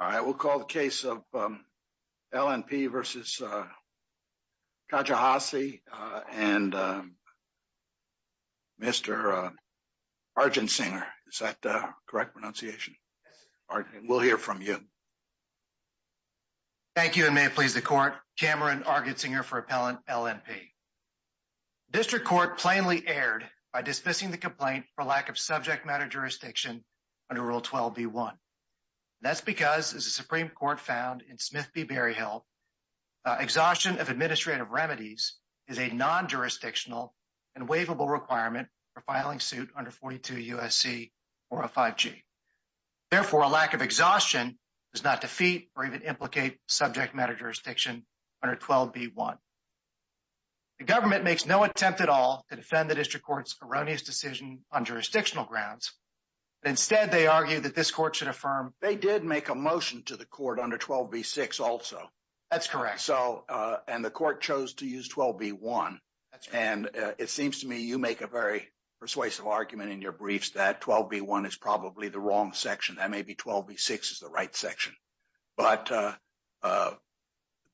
All right, we'll call the case of L.N.P. v. Kijakazi and Mr. Argentsinger. Is that the correct pronunciation? We'll hear from you. Thank you, and may it please the Court. Cameron Argentsinger for Appellant L.N.P. District Court plainly erred by dismissing the complaint for lack of subject matter jurisdiction under Rule 12b.1. That's because, as the Supreme Court found in Smith v. Berryhill, exhaustion of administrative remedies is a non-jurisdictional and waivable requirement for filing suit under 42 U.S.C. 405g. Therefore, a lack of exhaustion does not defeat or even implicate subject matter jurisdiction under 12b.1. The government makes no attempt at all to defend the District Court's erroneous decision on jurisdictional grounds. Instead, they argue that this Court should affirm They did make a motion to the Court under 12b.6 also. That's correct. And the Court chose to use 12b.1. And it seems to me you make a very persuasive argument in your briefs that 12b.1 is probably the wrong section. That maybe 12b.6 is the right section. But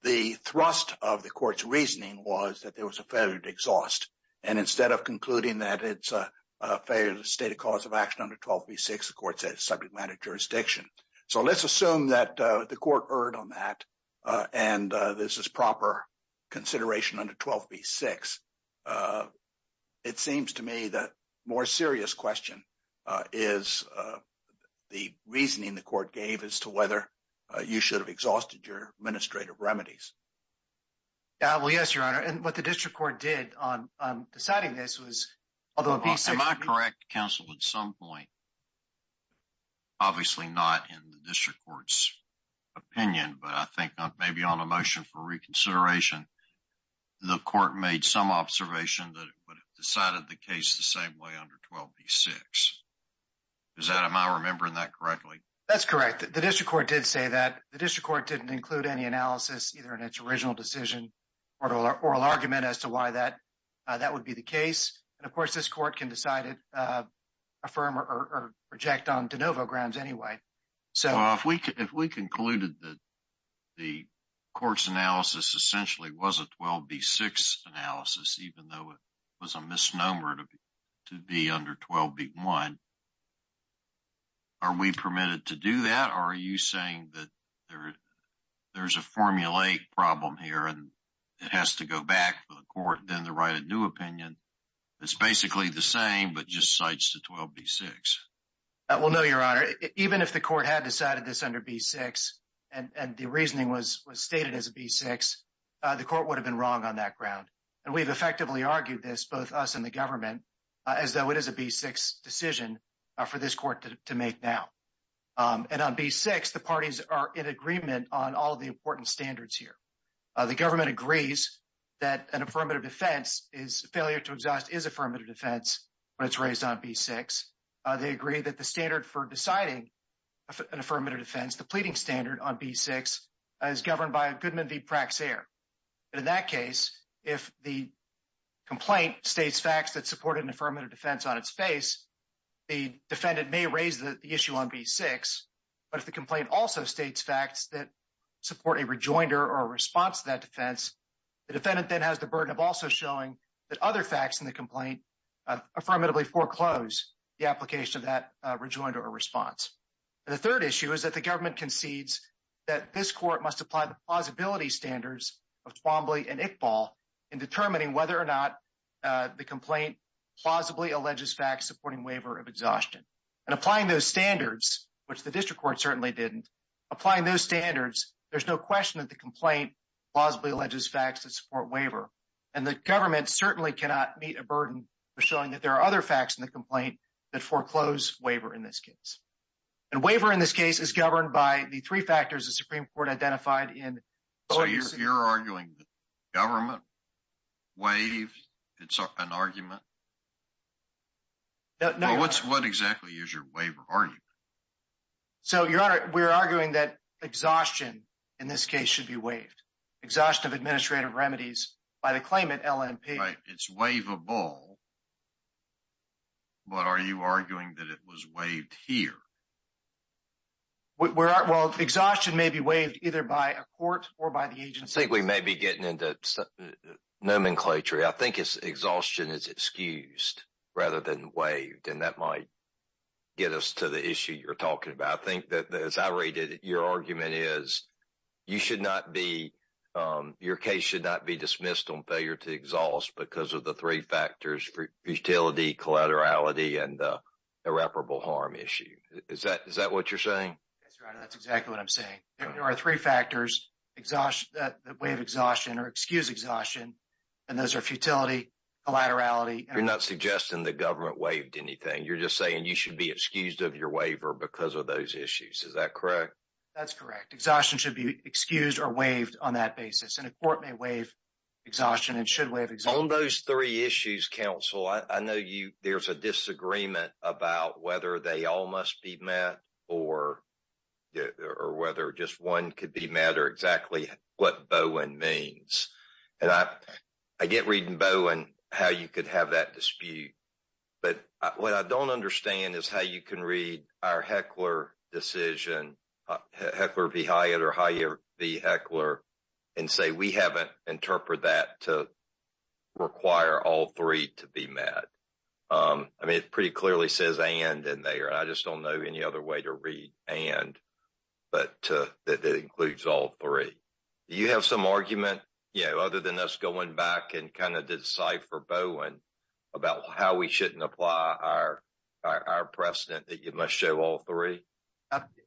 the thrust of the Court's reasoning was that there was a failure to exhaust. And instead of concluding that it's a failure to state a cause of action under 12b.6, the Court said it's subject matter jurisdiction. So let's assume that the Court erred on that and this is proper consideration under 12b.6. It seems to me that a more serious question is the reasoning the Court gave as to whether you should have exhausted your administrative remedies. Well, yes, Your Honor. And what the District Court did on deciding this was... Am I correct, Counsel, at some point, obviously not in the District Court's opinion, but I think maybe on a motion for reconsideration, the Court made some observation that it would have decided the case the same way under 12b.6. Am I remembering that correctly? That's correct. The District Court did say that. The District Court didn't include any analysis either in its original decision or oral argument as to why that would be the case. And, of course, this Court can decide to affirm or reject on de novo grounds anyway. Well, if we concluded that the Court's analysis essentially was a 12b.6 analysis, even though it was a misnomer to be under 12b.1, are we permitted to do that? Or are you saying that there's a formulaic problem here and it has to go back to the Court, then to write a new opinion that's basically the same but just cites the 12b.6? Well, no, Your Honor. Even if the Court had decided this under 12b.6 and the reasoning was stated as a 12b.6, the Court would have been wrong on that ground. And we've effectively argued this, both us and the government, as though it is a 12b.6 decision for this Court to make now. And on 12b.6, the parties are in agreement on all the important standards here. The government agrees that a failure to exhaust is affirmative defense when it's raised on 12b.6. They agree that the standard for deciding an affirmative defense, the pleading standard on b.6, is governed by Goodman v. Praxair. And in that case, if the complaint states facts that support an affirmative defense on its face, the defendant may raise the issue on b.6. The third issue is that the government concedes that this Court must apply the plausibility standards of Twombly and Iqbal in determining whether or not the complaint plausibly alleges facts supporting waiver of exhaustion. And applying those standards, which the District Court certainly didn't, applying those standards, there's no question that the complaint plausibly alleges facts that support waiver. And the government certainly cannot meet a burden for showing that there are other facts in the complaint that foreclose waiver in this case. And waiver in this case is governed by the three factors the Supreme Court identified in... So you're arguing that government, waive, it's an argument? No. Well, what exactly is your waiver argument? So, Your Honor, we're arguing that exhaustion in this case should be waived. Exhaustion of administrative remedies by the claimant, LNP. Right, it's waivable, but are you arguing that it was waived here? Well, exhaustion may be waived either by a court or by the agency. I think we may be getting into nomenclature. I think exhaustion is excused rather than waived, and that might get us to the issue you're talking about. I think that, as I read it, your argument is you should not be, your case should not be dismissed on failure to exhaust because of the three factors, futility, collaterality, and irreparable harm issue. Is that what you're saying? Yes, Your Honor, that's exactly what I'm saying. There are three factors that waive exhaustion or excuse exhaustion, and those are futility, collaterality... You're not suggesting the government waived anything. You're just saying you should be excused of your waiver because of those issues. Is that correct? That's correct. Exhaustion should be excused or waived on that basis, and a court may waive exhaustion and should waive exhaustion. On those three issues, counsel, I know there's a disagreement about whether they all must be met or whether just one could be met or exactly what Bowen means. I get reading Bowen how you could have that dispute, but what I don't understand is how you can read our Heckler decision, Heckler v. Hyatt or Hyatt v. Heckler, and say we haven't interpreted that to require all three to be met. I mean, it pretty clearly says and in there. I just don't know any other way to read and that includes all three. Do you have some argument other than us going back and kind of decipher Bowen about how we shouldn't apply our precedent that you must show all three?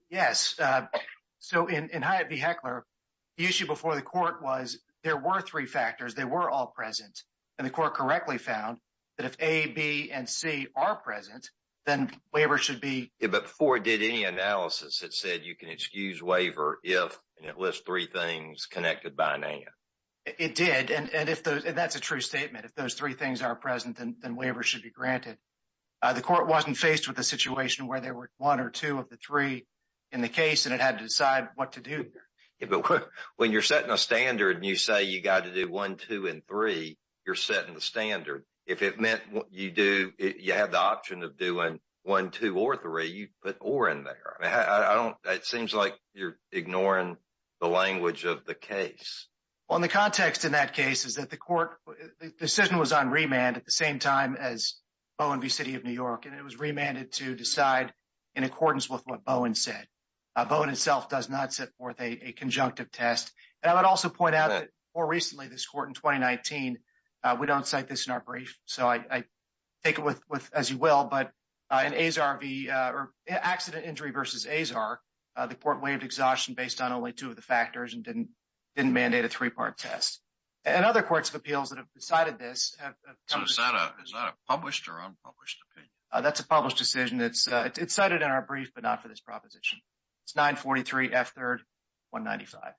Yes. So, in Hyatt v. Heckler, the issue before the court was there were three factors. They were all present, and the court correctly found that if A, B, and C are present, then waiver should be… Yeah, but before it did any analysis, it said you can excuse waiver if at least three things connected by a name. It did, and that's a true statement. If those three things are present, then waiver should be granted. The court wasn't faced with a situation where there were one or two of the three in the case, and it had to decide what to do. Yeah, but when you're setting a standard and you say you got to do one, two, and three, you're setting the standard. If it meant you have the option of doing one, two, or three, you put or in there. It seems like you're ignoring the language of the case. Well, and the context in that case is that the court, the decision was on remand at the same time as Bowen v. City of New York, and it was remanded to decide in accordance with what Bowen said. Bowen itself does not set forth a conjunctive test. And I would also point out that more recently, this court in 2019, we don't cite this in our brief, so I take it as you will, but in accident injury v. Azar, the court waived exhaustion based on only two of the factors and didn't mandate a three-part test. And other courts of appeals that have decided this have… So is that a published or unpublished opinion? That's a published decision. It's cited in our brief, but not for this proposition. It's 943 F. 3rd 195.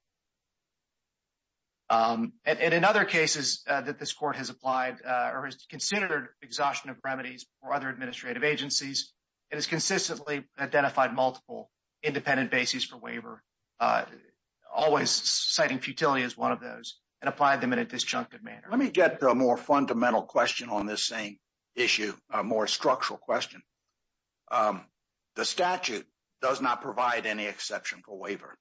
And in other cases that this court has applied or has considered exhaustion of remedies for other administrative agencies, it has consistently identified multiple independent bases for waiver, always citing futility as one of those, and applied them in a disjunctive manner. Let me get to a more fundamental question on this same issue, a more structural question. The statute does not provide any exceptional waiver.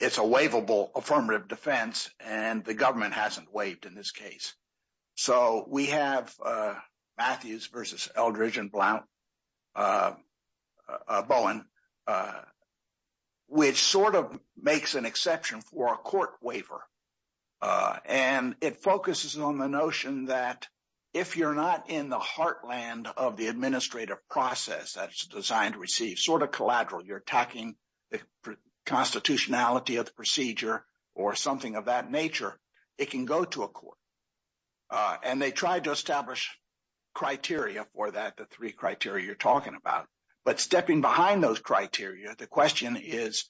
It's a waivable affirmative defense, and the government hasn't waived in this case. So we have Matthews versus Eldridge and Bowen, which sort of makes an exception for a court waiver. And it focuses on the notion that if you're not in the heartland of the administrative process that's designed to receive, sort of collateral, you're attacking the constitutionality of the procedure or something of that nature, it can go to a court. And they tried to establish criteria for that, the three criteria you're talking about. But stepping behind those criteria, the question is,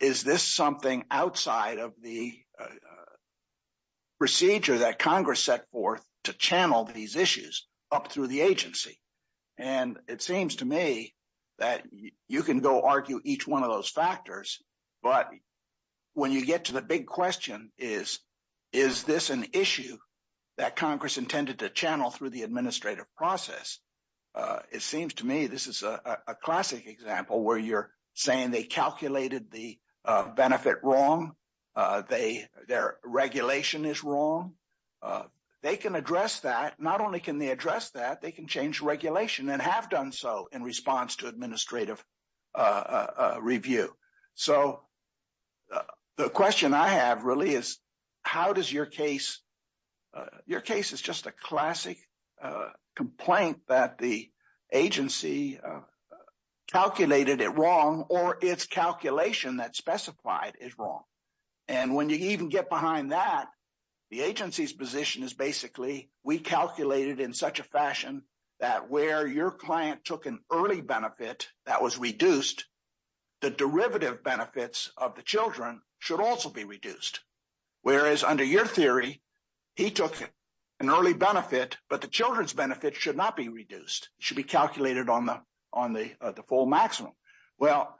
is this something outside of the procedure that Congress set forth to channel these issues up through the agency? And it seems to me that you can go argue each one of those factors, but when you get to the big question is, is this an issue that Congress intended to channel through the administrative process? It seems to me this is a classic example where you're saying they calculated the benefit wrong. Their regulation is wrong. They can address that. Not only can they address that, they can change regulation and have done so in response to administrative review. So the question I have really is, how does your case, your case is just a classic complaint that the agency calculated it wrong or its calculation that specified is wrong. And when you even get behind that, the agency's position is basically we calculated in such a fashion that where your client took an early benefit that was reduced, the derivative benefits of the children should also be reduced. Whereas under your theory, he took an early benefit, but the children's benefits should not be reduced, should be calculated on the full maximum. Well,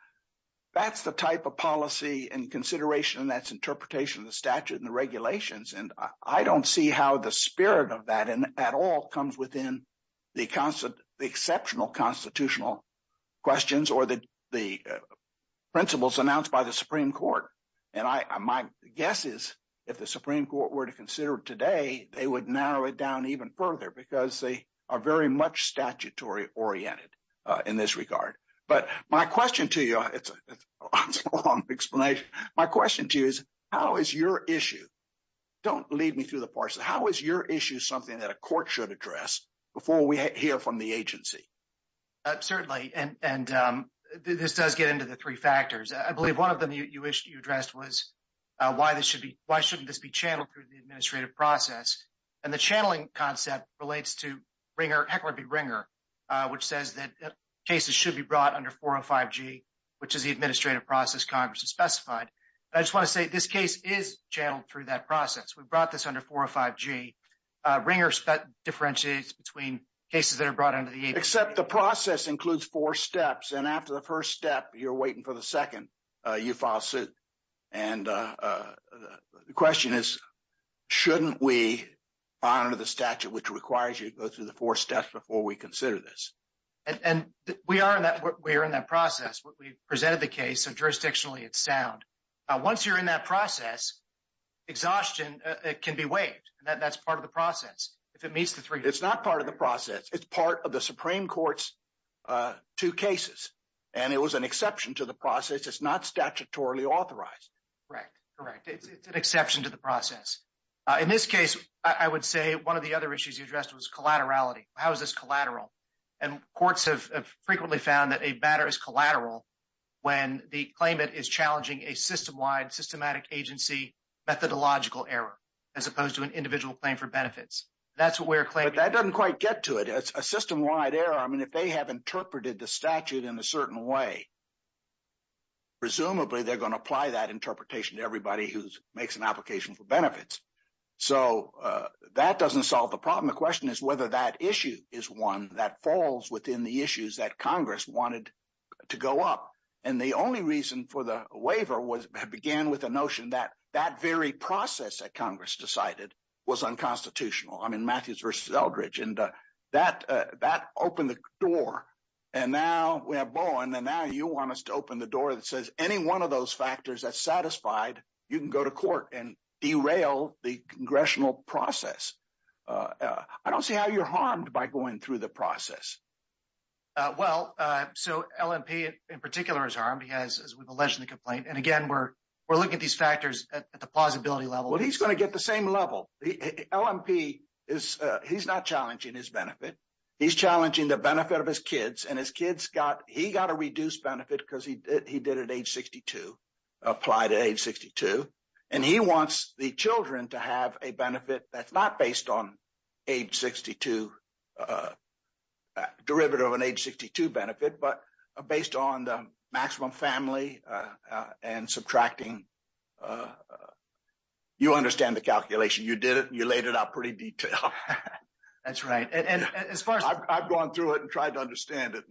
that's the type of policy and consideration and that's interpretation of the statute and the regulations. And I don't see how the spirit of that at all comes within the exceptional constitutional questions or the principles announced by the Supreme Court. And my guess is if the Supreme Court were to consider it today, they would narrow it down even further because they are very much statutory oriented in this regard. But my question to you, it's a long explanation. My question to you is, how is your issue, don't lead me through the parts, how is your issue something that a court should address before we hear from the agency? Certainly, and this does get into the three factors. I believe one of them you addressed was why shouldn't this be channeled through the administrative process? And the channeling concept relates to Heckler v. Ringer, which says that cases should be brought under 405G, which is the administrative process Congress has specified. I just want to say this case is channeled through that process. We brought this under 405G. Ringer differentiates between cases that are brought under the agency. Except the process includes four steps. And after the first step, you're waiting for the second, you file suit. And the question is, shouldn't we honor the statute which requires you to go through the four steps before we consider this? And we are in that process. We presented the case, so jurisdictionally it's sound. Once you're in that process, exhaustion can be waived. That's part of the process. It's not part of the process. It's part of the Supreme Court's two cases. And it was an exception to the process. It's not statutorily authorized. Correct, correct. It's an exception to the process. In this case, I would say one of the other issues you addressed was collaterality. How is this collateral? And courts have frequently found that a matter is collateral when the claimant is challenging a system-wide, systematic agency methodological error, as opposed to an individual claim for benefits. That's where a claimant... But that doesn't quite get to it. It's a system-wide error. I mean, if they have interpreted the statute in a certain way, presumably they're going to apply that interpretation to everybody who makes an application for benefits. So that doesn't solve the problem. The problem, the question is whether that issue is one that falls within the issues that Congress wanted to go up. And the only reason for the waiver began with the notion that that very process that Congress decided was unconstitutional. I mean, Matthews v. Eldridge. And that opened the door. And now we have Bowen, and now you want us to open the door that says any one of those factors that's satisfied, you can go to court and derail the congressional process. I don't see how you're harmed by going through the process. Well, so LMP in particular is harmed. He has, as we've alleged in the complaint. And again, we're looking at these factors at the plausibility level. Well, he's going to get the same level. LMP is... He's not challenging his benefit. He's challenging the benefit of his kids. And his kids got... He got a reduced benefit because he did it at age 62, applied at age 62. And he wants the children to have a benefit that's not based on age 62, derivative of an age 62 benefit, but based on the maximum family and subtracting... You understand the calculation. You did it. You laid it out pretty detailed. That's right. And as far as... I've gone through it and tried to understand it.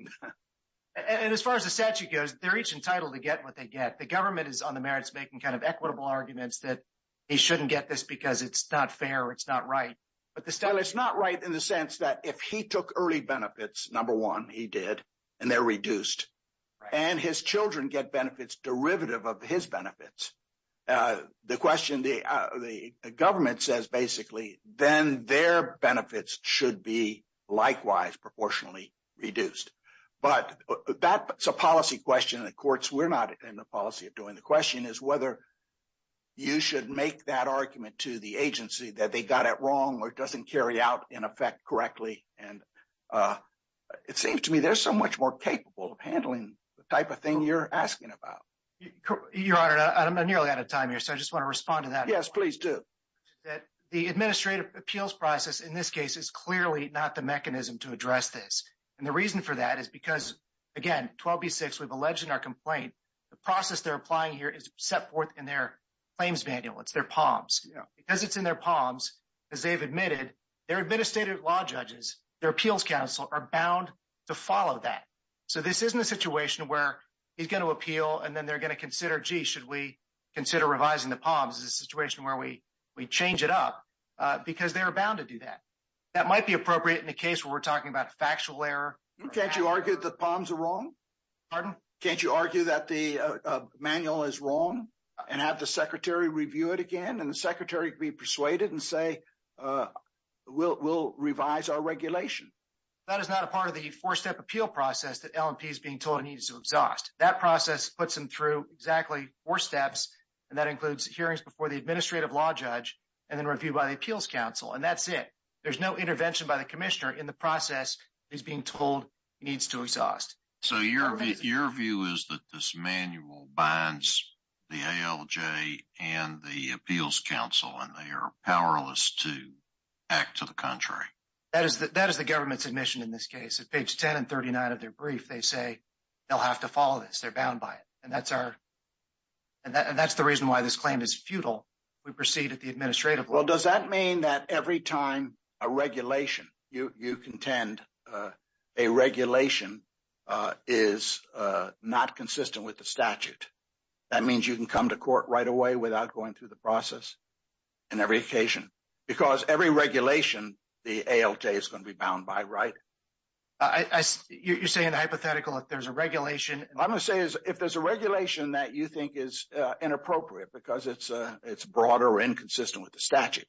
And as far as the statute goes, they're each entitled to get what they get. The government is on the merits making kind of equitable arguments that he shouldn't get this because it's not fair or it's not right. Well, it's not right in the sense that if he took early benefits, number one, he did, and they're reduced. And his children get benefits derivative of his benefits. The government says, basically, then their benefits should be likewise proportionally reduced. But that's a policy question in the courts. We're not in the policy of doing the question is whether you should make that argument to the agency that they got it wrong or doesn't carry out in effect correctly. And it seems to me they're so much more capable of handling the type of thing you're asking about. Your Honor, I'm nearly out of time here, so I just want to respond to that. Yes, please do. The administrative appeals process in this case is clearly not the mechanism to address this. And the reason for that is because, again, 12B6, we've alleged in our complaint, the process they're applying here is set forth in their claims manual. It's their palms. Because it's in their palms, as they've admitted, their administrative law judges, their appeals counsel are bound to follow that. So this isn't a situation where he's going to appeal and then they're going to consider, gee, should we consider revising the palms? This is a situation where we change it up because they're bound to do that. That might be appropriate in a case where we're talking about factual error. Can't you argue that the palms are wrong? Pardon? Can't you argue that the manual is wrong and have the secretary review it again and the secretary be persuaded and say, we'll revise our regulation? That is not a part of the four-step appeal process that LMP is being told he needs to exhaust. That process puts him through exactly four steps, and that includes hearings before the administrative law judge and then review by the appeals counsel. And that's it. There's no intervention by the commissioner in the process he's being told he needs to exhaust. So your view is that this manual binds the ALJ and the appeals counsel and they are powerless to act to the contrary? That is the government's admission in this case. At page 10 and 39 of their brief, they say they'll have to follow this. They're bound by it. And that's the reason why this claim is futile. We proceed at the administrative level. Well, does that mean that every time a regulation you contend a regulation is not consistent with the statute, that means you can come to court right away without going through the process? Because every regulation, the ALJ is going to be bound by, right? You're saying hypothetical if there's a regulation. I'm going to say is if there's a regulation that you think is inappropriate because it's broader or inconsistent with the statute,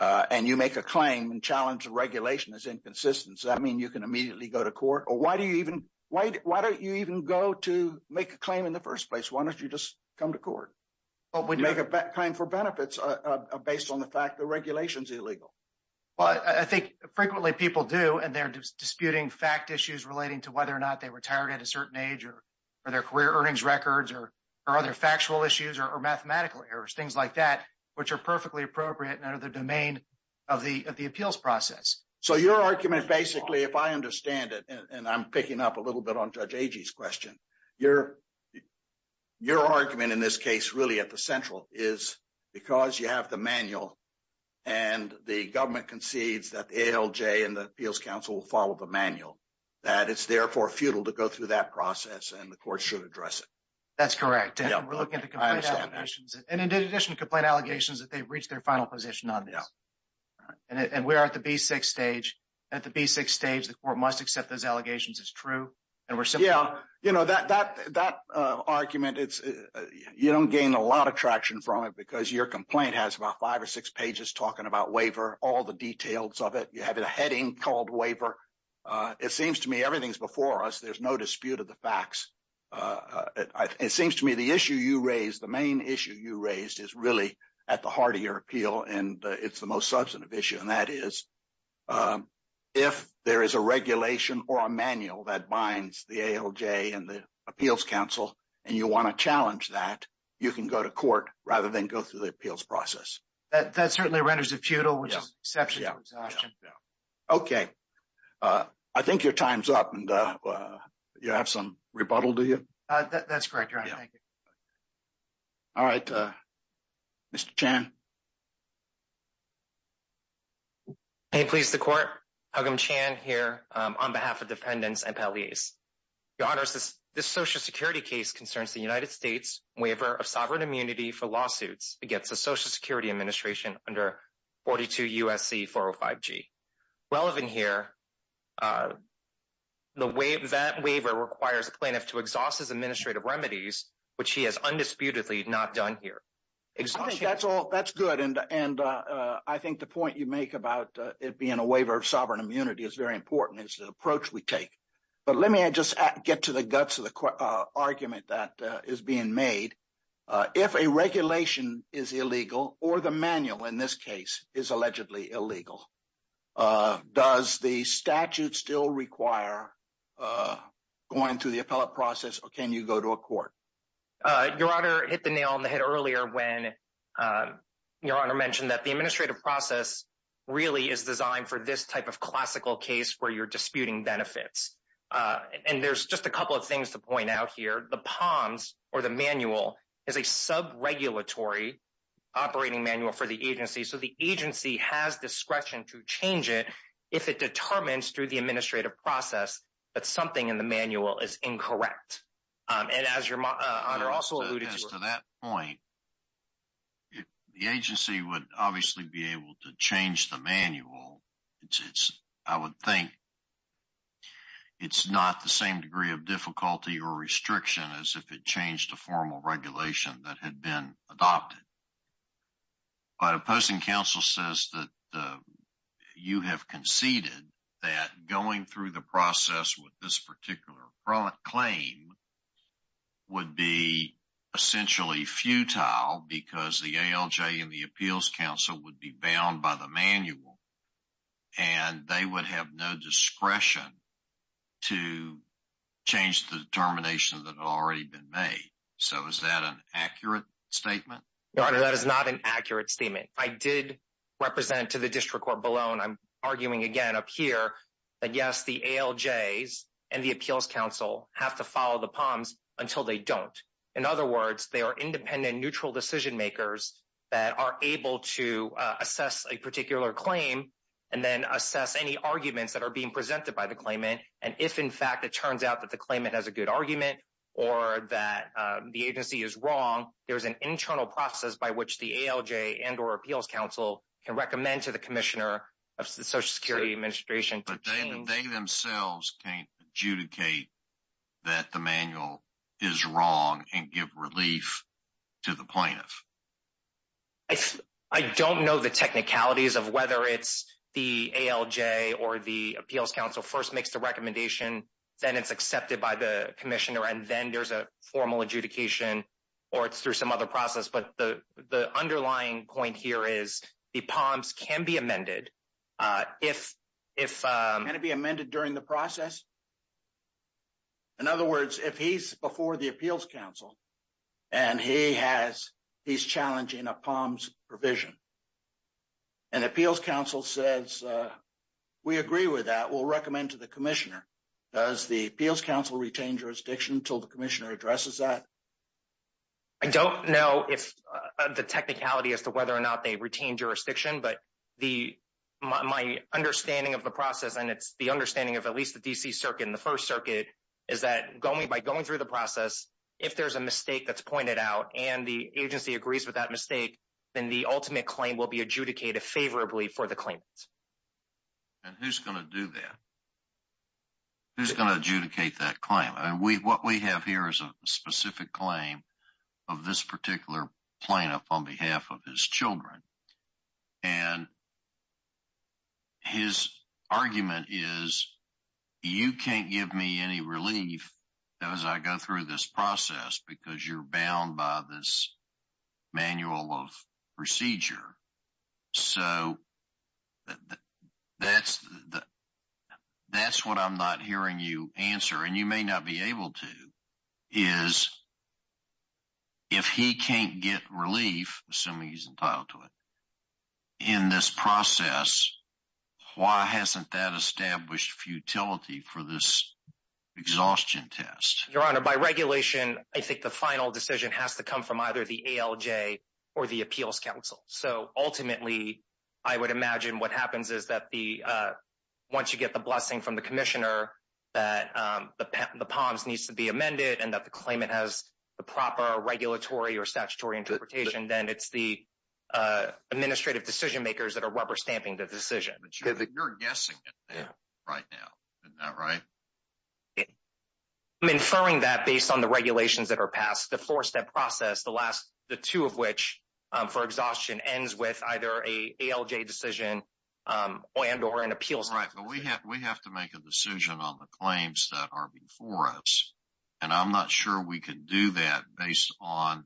and you make a claim and challenge the regulation is inconsistent. Does that mean you can immediately go to court? Or why don't you even go to make a claim in the first place? Why don't you just come to court? Make a claim for benefits based on the fact the regulation is illegal. Well, I think frequently people do. And they're disputing fact issues relating to whether or not they retired at a certain age or their career earnings records or other factual issues or mathematical errors, things like that, which are perfectly appropriate and under the domain of the appeals process. So your argument basically, if I understand it, and I'm picking up a little bit on Judge Agee's question, your argument in this case really at the central is because you have the manual and the government concedes that ALJ and the appeals council will follow the manual, that it's therefore futile to go through that process and the court should address it. That's correct. And we're looking at the complaint allegations. And in addition to complaint allegations that they've reached their final position on this. And we are at the B6 stage. At the B6 stage, the court must accept those allegations as true. Yeah, you know, that argument, you don't gain a lot of traction from it because your complaint has about five or six pages talking about waiver, all the details of it. You have a heading called waiver. It seems to me everything's before us. There's no dispute of the facts. It seems to me the issue you raised, the main issue you raised is really at the heart of your appeal. And it's the most substantive issue. And that is if there is a regulation or a manual that binds the ALJ and the appeals council, and you want to challenge that, you can go to court rather than go through the appeals process. That certainly renders it futile, which is an exception to exhaustion. Okay. I think your time's up. And you have some rebuttal, do you? That's correct, Your Honor. Thank you. All right. Mr. Chan. May it please the court. Hugum Chan here on behalf of defendants and palleys. Your Honor, this social security case concerns the United States waiver of sovereign immunity for lawsuits against the Social Security Administration under 42 U.S.C. 405G. Relevant here, that waiver requires plaintiff to exhaust his administrative remedies, which he has undisputedly not done here. That's good. And I think the point you make about it being a waiver of sovereign immunity is very important. It's the approach we take. But let me just get to the guts of the argument that is being made. If a regulation is illegal, or the manual in this case is allegedly illegal, does the statute still require going through the appellate process, or can you go to a court? Your Honor hit the nail on the head earlier when Your Honor mentioned that the administrative process really is designed for this type of classical case where you're disputing benefits. And there's just a couple of things to point out here. The POMS, or the manual, is a sub-regulatory operating manual for the agency. So the agency has discretion to change it if it determines through the administrative process that something in the manual is incorrect. And as Your Honor also alluded to... As to that point, the agency would obviously be able to change the manual. I would think it's not the same degree of difficulty or restriction as if it changed a formal regulation that had been adopted. But a posting counsel says that you have conceded that going through the process with this particular claim would be essentially futile because the ALJ and the appeals counsel would be bound by the manual. And they would have no discretion to change the determination that had already been made. So is that an accurate statement? Your Honor, that is not an accurate statement. I did represent to the district court below, and I'm arguing again up here, that yes, the ALJs and the appeals counsel have to follow the POMS until they don't. In other words, they are independent, neutral decision makers that are able to assess a particular claim and then assess any arguments that are being presented by the claimant. And if, in fact, it turns out that the claimant has a good argument or that the agency is wrong, there's an internal process by which the ALJ and or appeals counsel can recommend to the commissioner of the Social Security Administration. But they themselves can't adjudicate that the manual is wrong and give relief to the plaintiff. I don't know the technicalities of whether it's the ALJ or the appeals counsel first makes the recommendation, then it's accepted by the commissioner, and then there's a formal adjudication or it's through some other process. But the underlying point here is the POMS can be amended. Can it be amended during the process? In other words, if he's before the appeals counsel and he's challenging a POMS provision, and appeals counsel says, we agree with that, we'll recommend to the commissioner, does the appeals counsel retain jurisdiction until the commissioner addresses that? I don't know if the technicality as to whether or not they retain jurisdiction, but my understanding of the process, and it's the understanding of at least the D.C. Circuit and the First Circuit, is that by going through the process, if there's a mistake that's pointed out and the agency agrees with that mistake, then the ultimate claim will be adjudicated favorably for the claimant. And who's going to do that? Who's going to adjudicate that claim? And what we have here is a specific claim of this particular plaintiff on behalf of his children. And his argument is, you can't give me any relief as I go through this process because you're bound by this manual of procedure. So that's what I'm not hearing you answer, and you may not be able to, is if he can't get relief, assuming he's entitled to it, in this process, why hasn't that established futility for this exhaustion test? Your Honor, by regulation, I think the final decision has to come from either the ALJ or the appeals counsel. So ultimately, I would imagine what happens is that once you get the blessing from the commissioner that the POMS needs to be amended and that the claimant has the proper regulatory or statutory interpretation, then it's the administrative decision makers that are rubber stamping the decision. But you're guessing it right now. Isn't that right? I'm inferring that based on the regulations that are passed, the four-step process, the last, the two of which for exhaustion ends with either a ALJ decision and or an appeals. We have to make a decision on the claims that are before us, and I'm not sure we can do that based on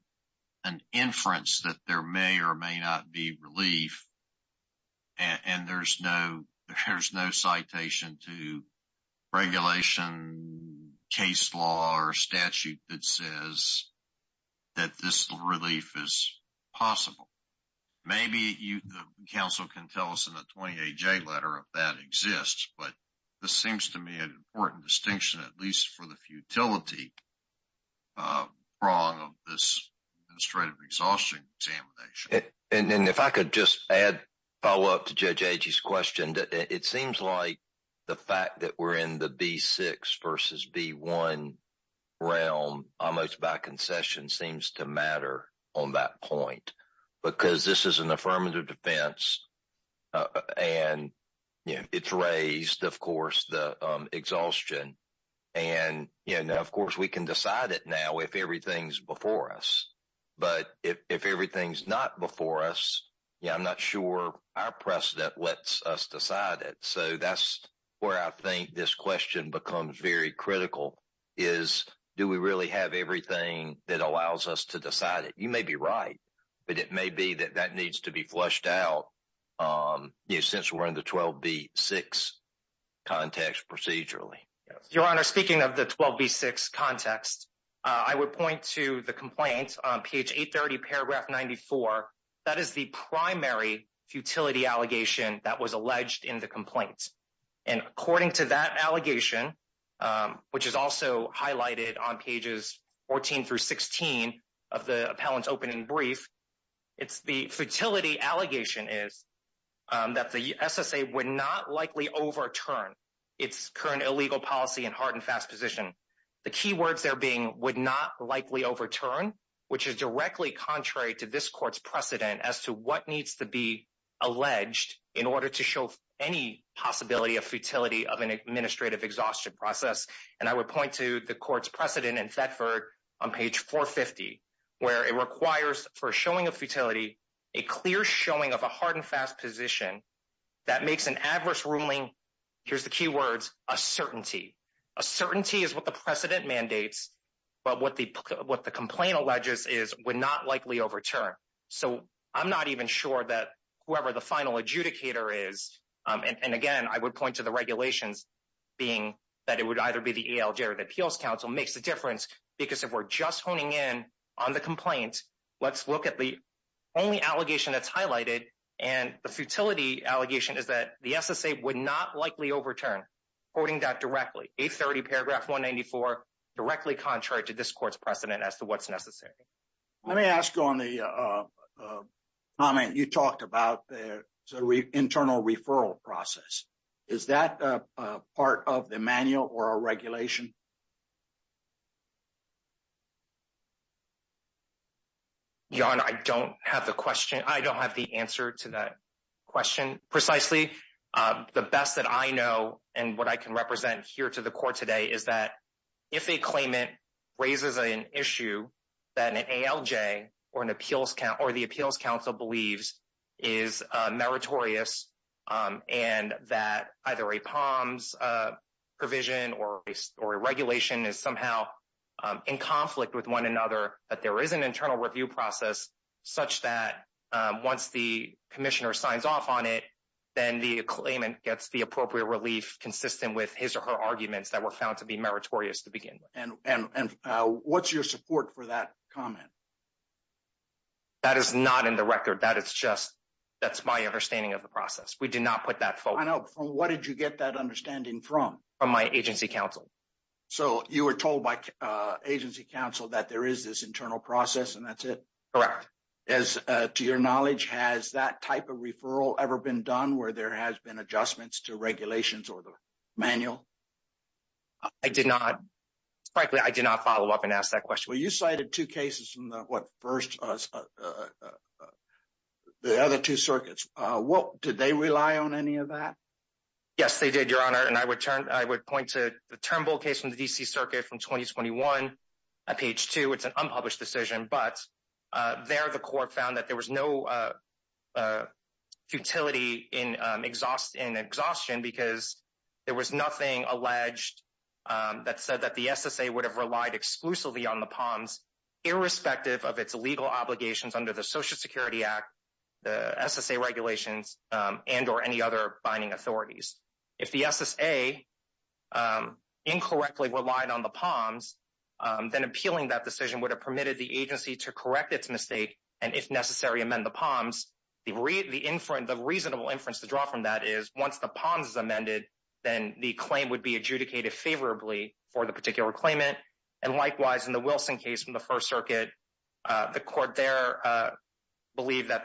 an inference that there may or may not be relief. And there's no citation to regulation, case law, or statute that says that this relief is possible. Maybe the counsel can tell us in the 20-AJ letter if that exists, but this seems to me an important distinction, at least for the futility prong of this administrative exhaustion examination. And if I could just add, follow up to Judge Agee's question, it seems like the fact that we're in the B6 versus B1 realm, almost by concession, seems to matter on that point. Because this is an affirmative defense, and it's raised, of course, the exhaustion. And of course, we can decide it now if everything's before us. But if everything's not before us, I'm not sure our precedent lets us decide it. So that's where I think this question becomes very critical, is do we really have everything that allows us to decide it? You may be right, but it may be that that needs to be flushed out since we're in the 12B6 context procedurally. Your Honor, speaking of the 12B6 context, I would point to the complaint on page 830, paragraph 94. That is the primary futility allegation that was alleged in the complaint. And according to that allegation, which is also highlighted on pages 14 through 16 of the appellant's opening brief, the futility allegation is that the SSA would not likely overturn its current illegal policy and hard and fast position. The key words there being would not likely overturn, which is directly contrary to this court's precedent as to what needs to be alleged in order to show any possibility of futility of an administrative exhaustion process. And I would point to the court's precedent in Thetford on page 450, where it requires for showing of futility a clear showing of a hard and fast position that makes an adverse ruling, here's the key words, a certainty. A certainty is what the precedent mandates, but what the complaint alleges is would not likely overturn. So I'm not even sure that whoever the final adjudicator is. And again, I would point to the regulations being that it would either be the ALJ or the Appeals Council makes a difference because if we're just honing in on the complaint, let's look at the only allegation that's highlighted and the futility allegation is that the SSA would not likely overturn, quoting that directly, 830 paragraph 194, directly contrary to this court's precedent as to what's necessary. Let me ask on the comment you talked about, the internal referral process. Is that part of the manual or a regulation? Yon, I don't have the question. I don't have the answer to that question precisely. The best that I know and what I can represent here to the court today is that if a claimant raises an issue that an ALJ or the Appeals Council believes is meritorious and that either a POMS provision or a regulation is somehow in conflict with one another, that there is an internal review process such that once the commissioner signs off on it, then the claimant gets the appropriate relief consistent with his or her arguments that were found to be meritorious to begin with. And what's your support for that comment? That is not in the record. That is just my understanding of the process. We did not put that forward. I know. From what did you get that understanding from? From my agency counsel. So you were told by agency counsel that there is this internal process and that's it? Correct. As to your knowledge, has that type of referral ever been done where there has been adjustments to regulations or the manual? I did not. Frankly, I did not follow up and ask that question. Well, you cited two cases from the other two circuits. Did they rely on any of that? Yes, they did, Your Honor. And I would point to the Turnbull case from the D.C. Circuit from 2021 at page 2. It's an unpublished decision, but there the court found that there was no futility in exhaustion because there was nothing alleged that said that the SSA would have relied exclusively on the POMS irrespective of its legal obligations under the Social Security Act, the SSA regulations, and or any other binding authorities. If the SSA incorrectly relied on the POMS, then appealing that decision would have permitted the agency to correct its mistake and, if necessary, amend the POMS. The reasonable inference to draw from that is once the POMS is amended, then the claim would be adjudicated favorably for the particular claimant. And likewise, in the Wilson case from the First Circuit, the court there believed that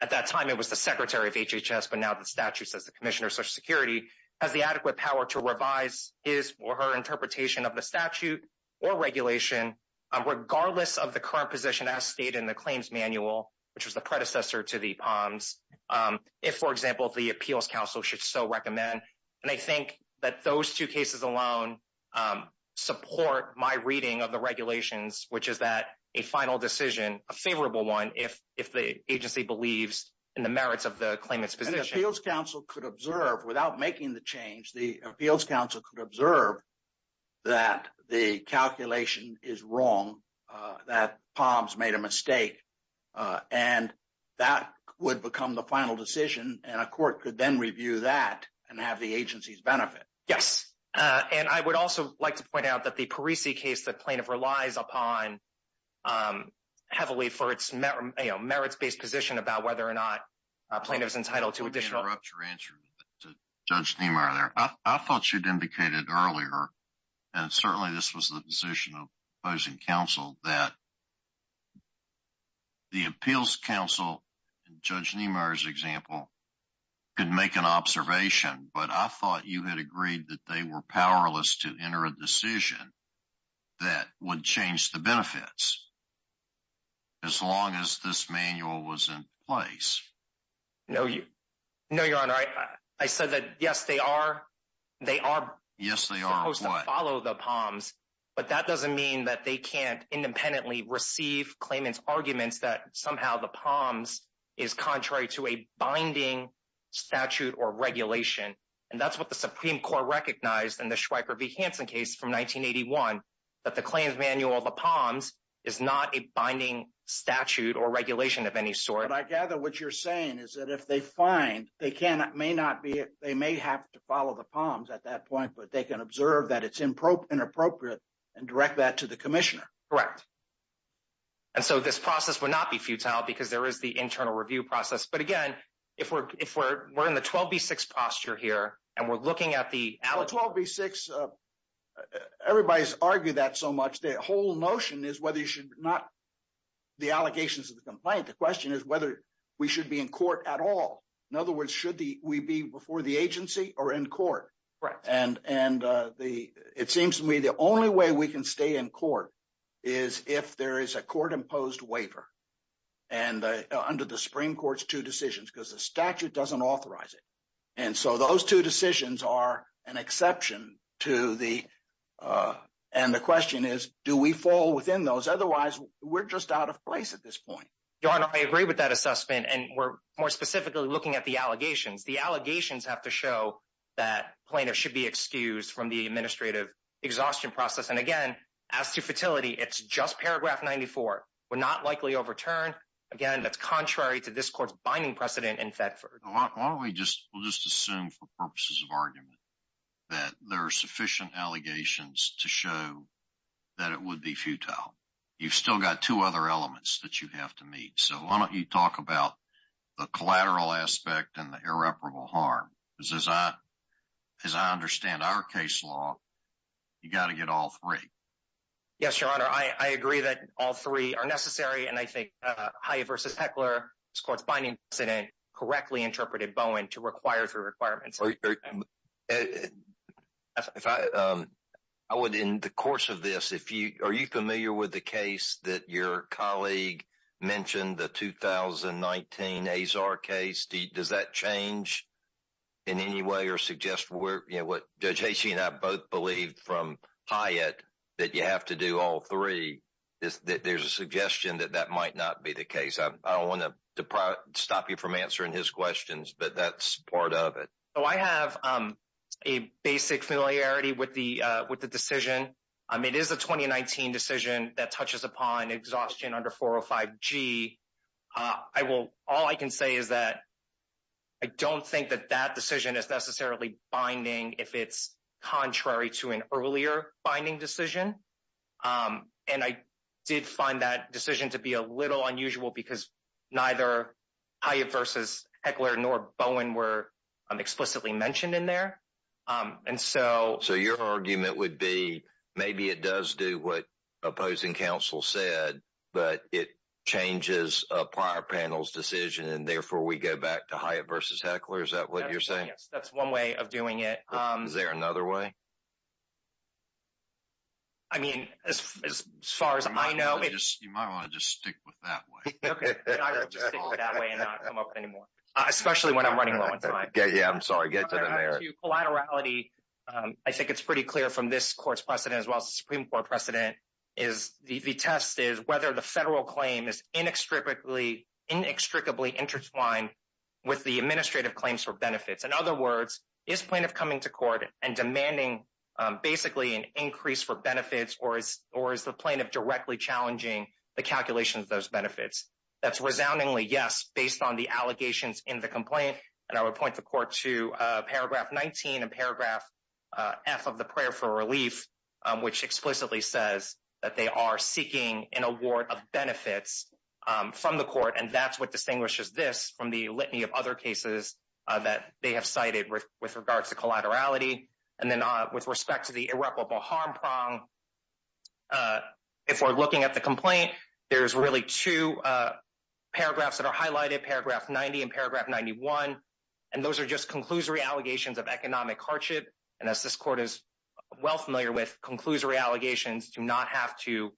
at that time it was the Secretary of HHS, but now the statute says the Commissioner of Social Security, has the adequate power to revise his or her interpretation of the statute or regulation, regardless of the current position as stated in the claims manual, which was the predecessor to the POMS, if, for example, the Appeals Council should so recommend. And I think that those two cases alone support my reading of the regulations, which is that a final decision, a favorable one, if the agency believes in the merits of the claimant's position. The Appeals Council could observe, without making the change, the Appeals Council could observe that the calculation is wrong, that POMS made a mistake. And that would become the final decision, and a court could then review that and have the agency's benefit. Yes. And I would also like to point out that the Parisi case, the plaintiff relies upon heavily for its merits-based position about whether or not a plaintiff is entitled to additional... Let me interrupt your answer to Judge Niemeyer there. I thought you'd indicated earlier, and certainly this was the position of opposing counsel, that the Appeals Council, in Judge Niemeyer's example, could make an observation. But I thought you had agreed that they were powerless to enter a decision that would change the benefits as long as this manual was in place. No, Your Honor. I said that, yes, they are supposed to follow the POMS, but that doesn't mean that they can't independently receive claimant's arguments that somehow the POMS is contrary to a binding statute or regulation. And that's what the Supreme Court recognized in the Schweiker v. Hansen case from 1981, that the claims manual, the POMS, is not a binding statute or regulation of any sort. But I gather what you're saying is that if they find, they may have to follow the POMS at that point, but they can observe that it's inappropriate and direct that to the commissioner. Correct. And so this process would not be futile because there is the internal review process. But again, if we're in the 12B6 posture here and we're looking at the... 12B6, everybody's argued that so much. The whole notion is whether you should not, the allegations of the complaint, the question is whether we should be in court at all. In other words, should we be before the agency or in court? Correct. And it seems to me the only way we can stay in court is if there is a court-imposed waiver under the Supreme Court's two decisions because the statute doesn't authorize it. And so those two decisions are an exception to the... And the question is, do we fall within those? Otherwise, we're just out of place at this point. Your Honor, I agree with that assessment. And we're more specifically looking at the allegations. The allegations have to show that plaintiffs should be excused from the administrative exhaustion process. And again, as to futility, it's just paragraph 94. We're not likely overturned. Again, that's contrary to this court's binding precedent in Thetford. Why don't we just assume for purposes of argument that there are sufficient allegations to show that it would be futile? You've still got two other elements that you have to meet. So why don't you talk about the collateral aspect and the irreparable harm? Because as I understand our case law, you've got to get all three. Yes, Your Honor. I agree that all three are necessary. And I think Hyatt v. Heckler, this court's binding precedent, correctly interpreted Bowen to require three requirements. In the course of this, are you familiar with the case that your colleague mentioned, the 2019 Azar case? Does that change in any way or suggest where... Judge Hacey and I both believed from Hyatt that you have to do all three. There's a suggestion that that might not be the case. I don't want to stop you from answering his questions, but that's part of it. I have a basic familiarity with the decision. It is a 2019 decision that touches upon exhaustion under 405G. All I can say is that I don't think that that decision is necessarily binding if it's contrary to an earlier binding decision. And I did find that decision to be a little unusual because neither Hyatt v. Heckler nor Bowen were explicitly mentioned in there. And so... So your argument would be maybe it does do what opposing counsel said, but it changes a prior panel's decision and therefore we go back to Hyatt v. Heckler. Is that what you're saying? Yes, that's one way of doing it. Is there another way? I mean, as far as I know... You might want to just stick with that way. Okay. I will just stick with that way and not come up with any more. Especially when I'm running low on time. Yeah, I'm sorry. Get to the mayor. I think it's pretty clear from this court's precedent as well as the Supreme Court precedent is the test is whether the federal claim is inextricably intertwined with the administrative claims for benefits. In other words, is plaintiff coming to court and demanding basically an increase for benefits or is the plaintiff directly challenging the calculations of those benefits? That's resoundingly yes, based on the allegations in the complaint. And I would point the court to paragraph 19 and paragraph F of the prayer for relief, which explicitly says that they are seeking an award of benefits from the court. And that's what distinguishes this from the litany of other cases that they have cited with regards to collaterality. And then with respect to the irreparable harm prong, if we're looking at the complaint, there's really two paragraphs that are highlighted, paragraph 90 and paragraph 91. And those are just conclusory allegations of economic hardship. And as this court is well familiar with, conclusory allegations do not have to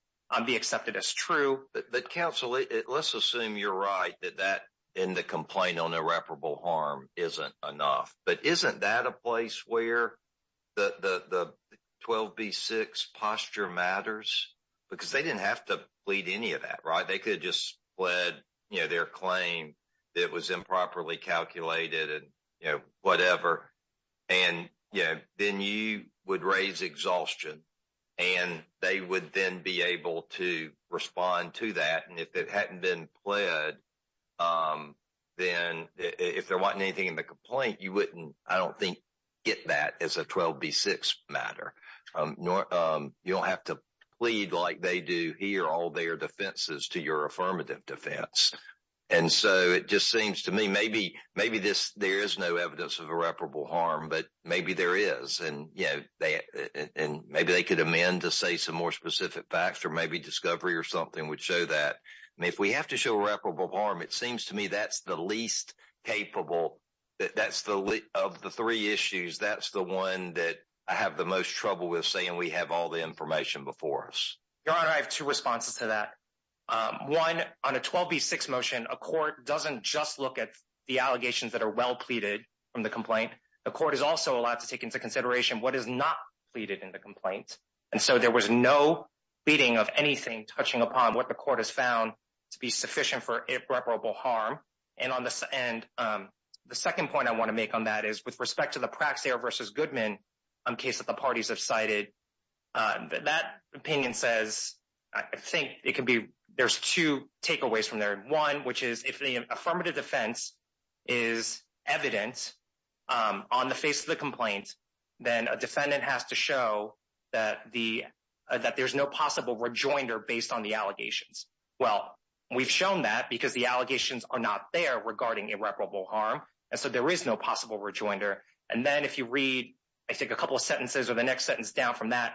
be accepted as true. But counsel, let's assume you're right that that in the complaint on irreparable harm isn't enough. But isn't that a place where the 12B6 posture matters? Because they didn't have to plead any of that, right? They could just fled their claim. It was improperly calculated and whatever. And then you would raise exhaustion and they would then be able to respond to that. And if it hadn't been pled, then if there wasn't anything in the complaint, you wouldn't, I don't think, get that as a 12B6 matter. You don't have to plead like they do here all their defenses to your affirmative defense. And so it just seems to me maybe there is no evidence of irreparable harm, but maybe there is. And maybe they could amend to say some more specific facts or maybe discovery or something would show that. And if we have to show irreparable harm, it seems to me that's the least capable of the three issues. That's the one that I have the most trouble with saying we have all the information before us. Your Honor, I have two responses to that. One, on a 12B6 motion, a court doesn't just look at the allegations that are well pleaded from the complaint. The court is also allowed to take into consideration what is not pleaded in the complaint. And so there was no pleading of anything touching upon what the court has found to be sufficient for irreparable harm. And the second point I want to make on that is with respect to the Praxair v. Goodman case that the parties have cited, that opinion says, I think it could be, there's two takeaways from there. One, which is if the affirmative defense is evident on the face of the complaint, then a defendant has to show that there's no possible rejoinder based on the allegations. Well, we've shown that because the allegations are not there regarding irreparable harm. And so there is no possible rejoinder. And then if you read, I think, a couple of sentences or the next sentence down from that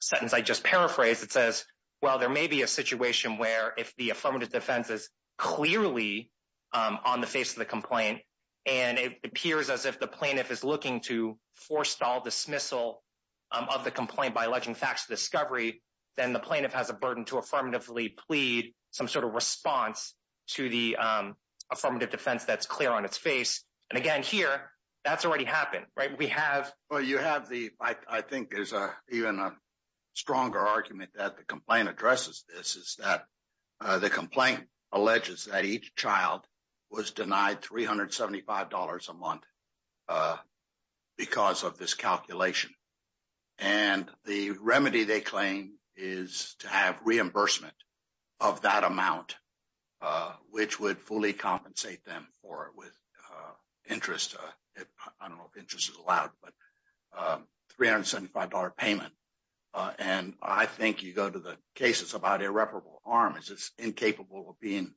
sentence I just paraphrased, it says, well, there may be a situation where if the affirmative defense is clearly on the face of the complaint, and it appears as if the plaintiff is looking to forestall dismissal of the complaint by alleging facts of discovery, then the plaintiff has a burden to affirmative defense. And so the plaintiff has to effectively plead some sort of response to the affirmative defense that's clear on its face. And again, here, that's already happened, right? We have... of that amount, which would fully compensate them for it with interest. I don't know if interest is allowed, but $375 payment. And I think you go to the cases about irreparable harm is it's incapable of being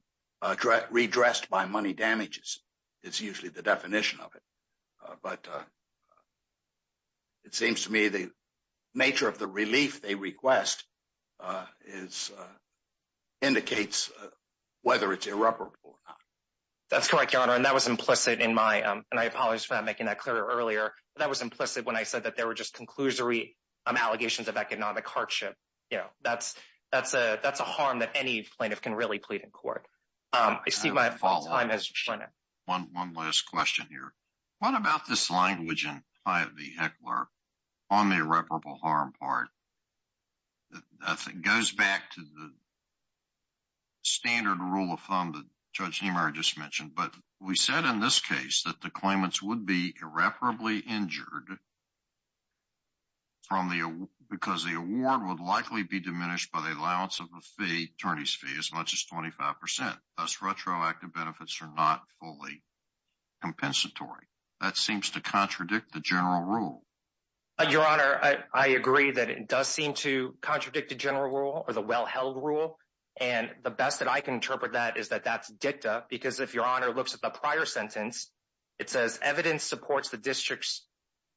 redressed by money damages is usually the definition of it. But it seems to me the nature of the relief they request indicates whether it's irreparable or not. That's correct, Your Honor. And that was implicit in my... and I apologize for not making that clearer earlier. That was implicit when I said that there were just conclusory allegations of economic hardship. That's a harm that any plaintiff can really plead in court. One last question here. What about this language in Hyatt v. Heckler on the irreparable harm part? That goes back to the standard rule of thumb that Judge Niemeyer just mentioned. But we said in this case that the claimants would be irreparably injured because the award would likely be diminished by the allowance of the attorney's fee as much as 25%. Thus, retroactive benefits are not fully compensatory. That seems to contradict the general rule. And the best that I can interpret that is that that's dicta because if Your Honor looks at the prior sentence, it says evidence supports the district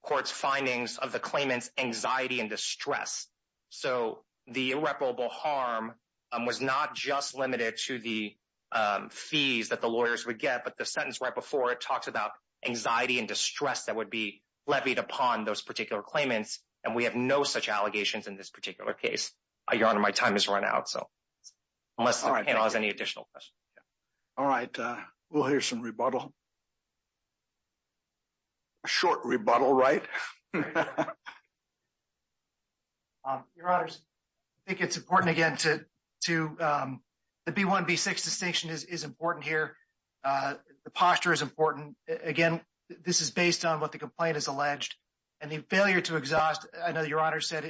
court's findings of the claimant's anxiety and distress. So the irreparable harm was not just limited to the fees that the lawyers would get, but the sentence right before it talks about anxiety and distress that would be levied upon those particular claimants. And we have no such allegations in this particular case. Your Honor, my time has run out, so unless the panel has any additional questions. All right. We'll hear some rebuttal. A short rebuttal, right? Your Honor, I think it's important again to the B-1, B-6 distinction is important here. The posture is important. Again, this is based on what the complaint has alleged. And the failure to exhaust, I know Your Honor said,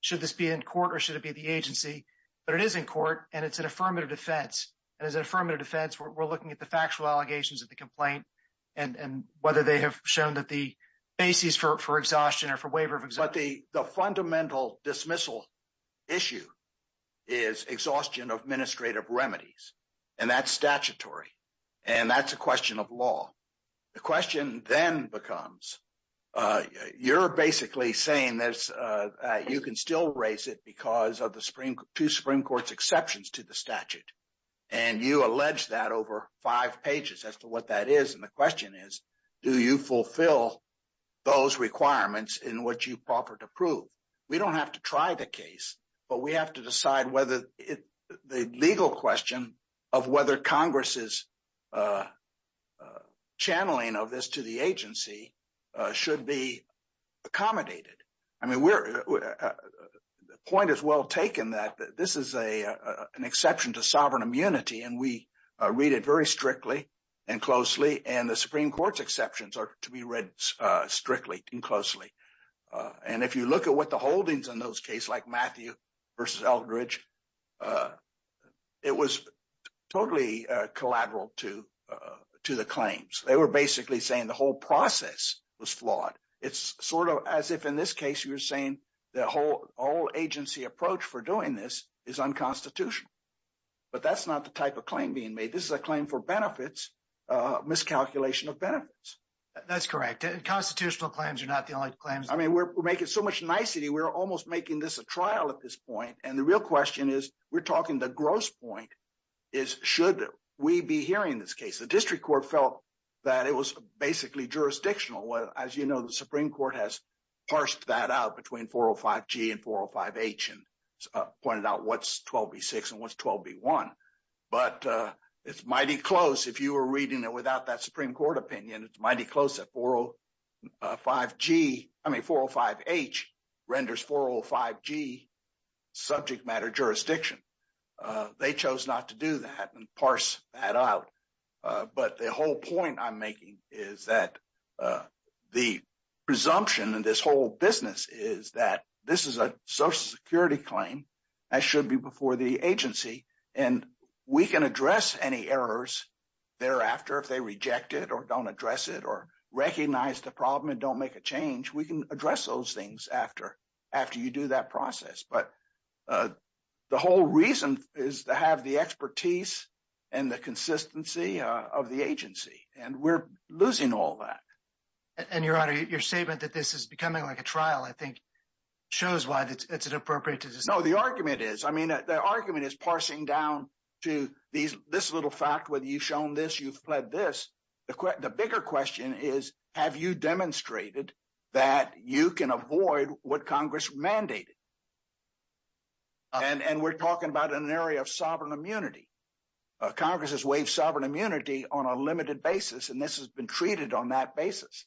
should this be in court or should it be the agency? But it is in court and it's an affirmative defense. And as an affirmative defense, we're looking at the factual allegations of the complaint and whether they have shown that the basis for exhaustion or for waiver of exhaustion. The fundamental dismissal issue is exhaustion of administrative remedies. And that's statutory. And that's a question of law. The question then becomes, you're basically saying that you can still raise it because of the two Supreme Court's exceptions to the statute. And you allege that over five pages as to what that is. And the question is, do you fulfill those requirements in which you offered to prove? We don't have to try the case, but we have to decide whether the legal question of whether Congress's channeling of this to the agency should be accommodated. I mean, the point is well taken that this is an exception to sovereign immunity. And we read it very strictly and closely. And the Supreme Court's exceptions are to be read strictly and closely. And if you look at what the holdings in those case like Matthew versus Eldridge, it was totally collateral to the claims. They were basically saying the whole process was flawed. It's sort of as if in this case, you were saying the whole agency approach for doing this is unconstitutional. But that's not the type of claim being made. This is a claim for benefits, miscalculation of benefits. That's correct. And constitutional claims are not the only claims. I mean, we're making so much nicety. We're almost making this a trial at this point. And the real question is, we're talking the gross point is, should we be hearing this case? The district court felt that it was basically jurisdictional. Well, as you know, the Supreme Court has parsed that out between 405G and 405H and pointed out what's 12B6 and what's 12B1. But it's mighty close if you were reading it without that Supreme Court opinion. It's mighty close at 405G. I mean, 405H renders 405G subject matter jurisdiction. They chose not to do that and parse that out. But the whole point I'm making is that the presumption in this whole business is that this is a social security claim. That should be before the agency. And we can address any errors thereafter if they reject it or don't address it or recognize the problem and don't make a change. We can address those things after you do that process. But the whole reason is to have the expertise and the consistency of the agency. And we're losing all that. And, Your Honor, your statement that this is becoming like a trial, I think, shows why it's inappropriate to dismiss it. No, the argument is. I mean, the argument is parsing down to this little fact, whether you've shown this, you've pled this. The bigger question is, have you demonstrated that you can avoid what Congress mandated? And we're talking about an area of sovereign immunity. Congress has waived sovereign immunity on a limited basis, and this has been treated on that basis.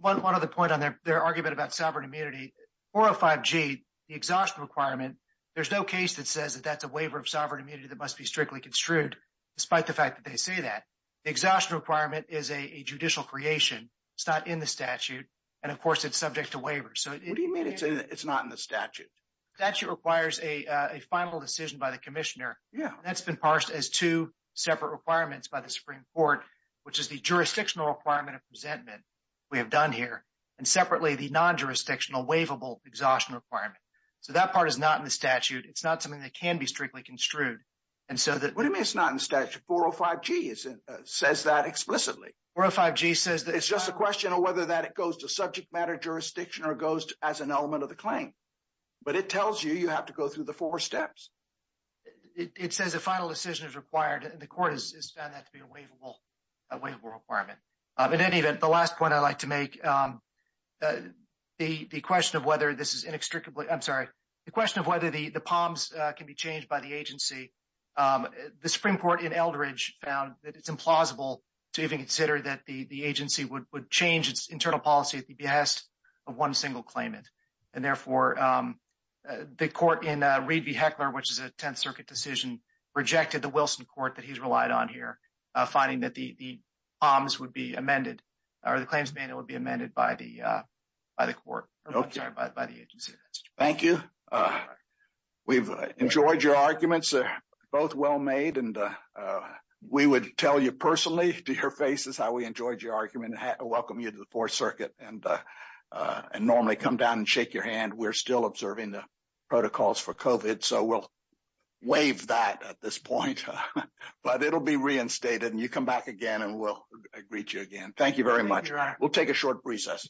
One other point on their argument about sovereign immunity, 405G, the exhaustion requirement, there's no case that says that that's a waiver of sovereign immunity that must be strictly construed, despite the fact that they say that. The exhaustion requirement is a judicial creation. It's not in the statute. And, of course, it's subject to waiver. What do you mean it's not in the statute? The statute requires a final decision by the commissioner. That's been parsed as two separate requirements by the Supreme Court, which is the jurisdictional requirement of resentment we have done here, and separately, the non-jurisdictional waivable exhaustion requirement. So that part is not in the statute. It's not something that can be strictly construed. What do you mean it's not in the statute? 405G says that explicitly. It's just a question of whether that goes to subject matter jurisdiction or goes as an element of the claim. But it tells you you have to go through the four steps. It says a final decision is required, and the court has found that to be a waivable requirement. In any event, the last point I'd like to make, the question of whether the POMS can be changed by the agency, the Supreme Court in Eldridge found that it's implausible to even consider that the agency would change its internal policy at the behest of one single claimant. And therefore, the court in Reed v. Heckler, which is a Tenth Circuit decision, rejected the Wilson court that he's relied on here, finding that the claims would be amended by the agency. Thank you. We've enjoyed your arguments. They're both well-made, and we would tell you personally to your faces how we enjoyed your argument and welcome you to the Fourth Circuit and normally come down and shake your hand. We're still observing the protocols for COVID, so we'll waive that at this point. But it'll be reinstated, and you come back again, and we'll greet you again. Thank you very much. We'll take a short recess.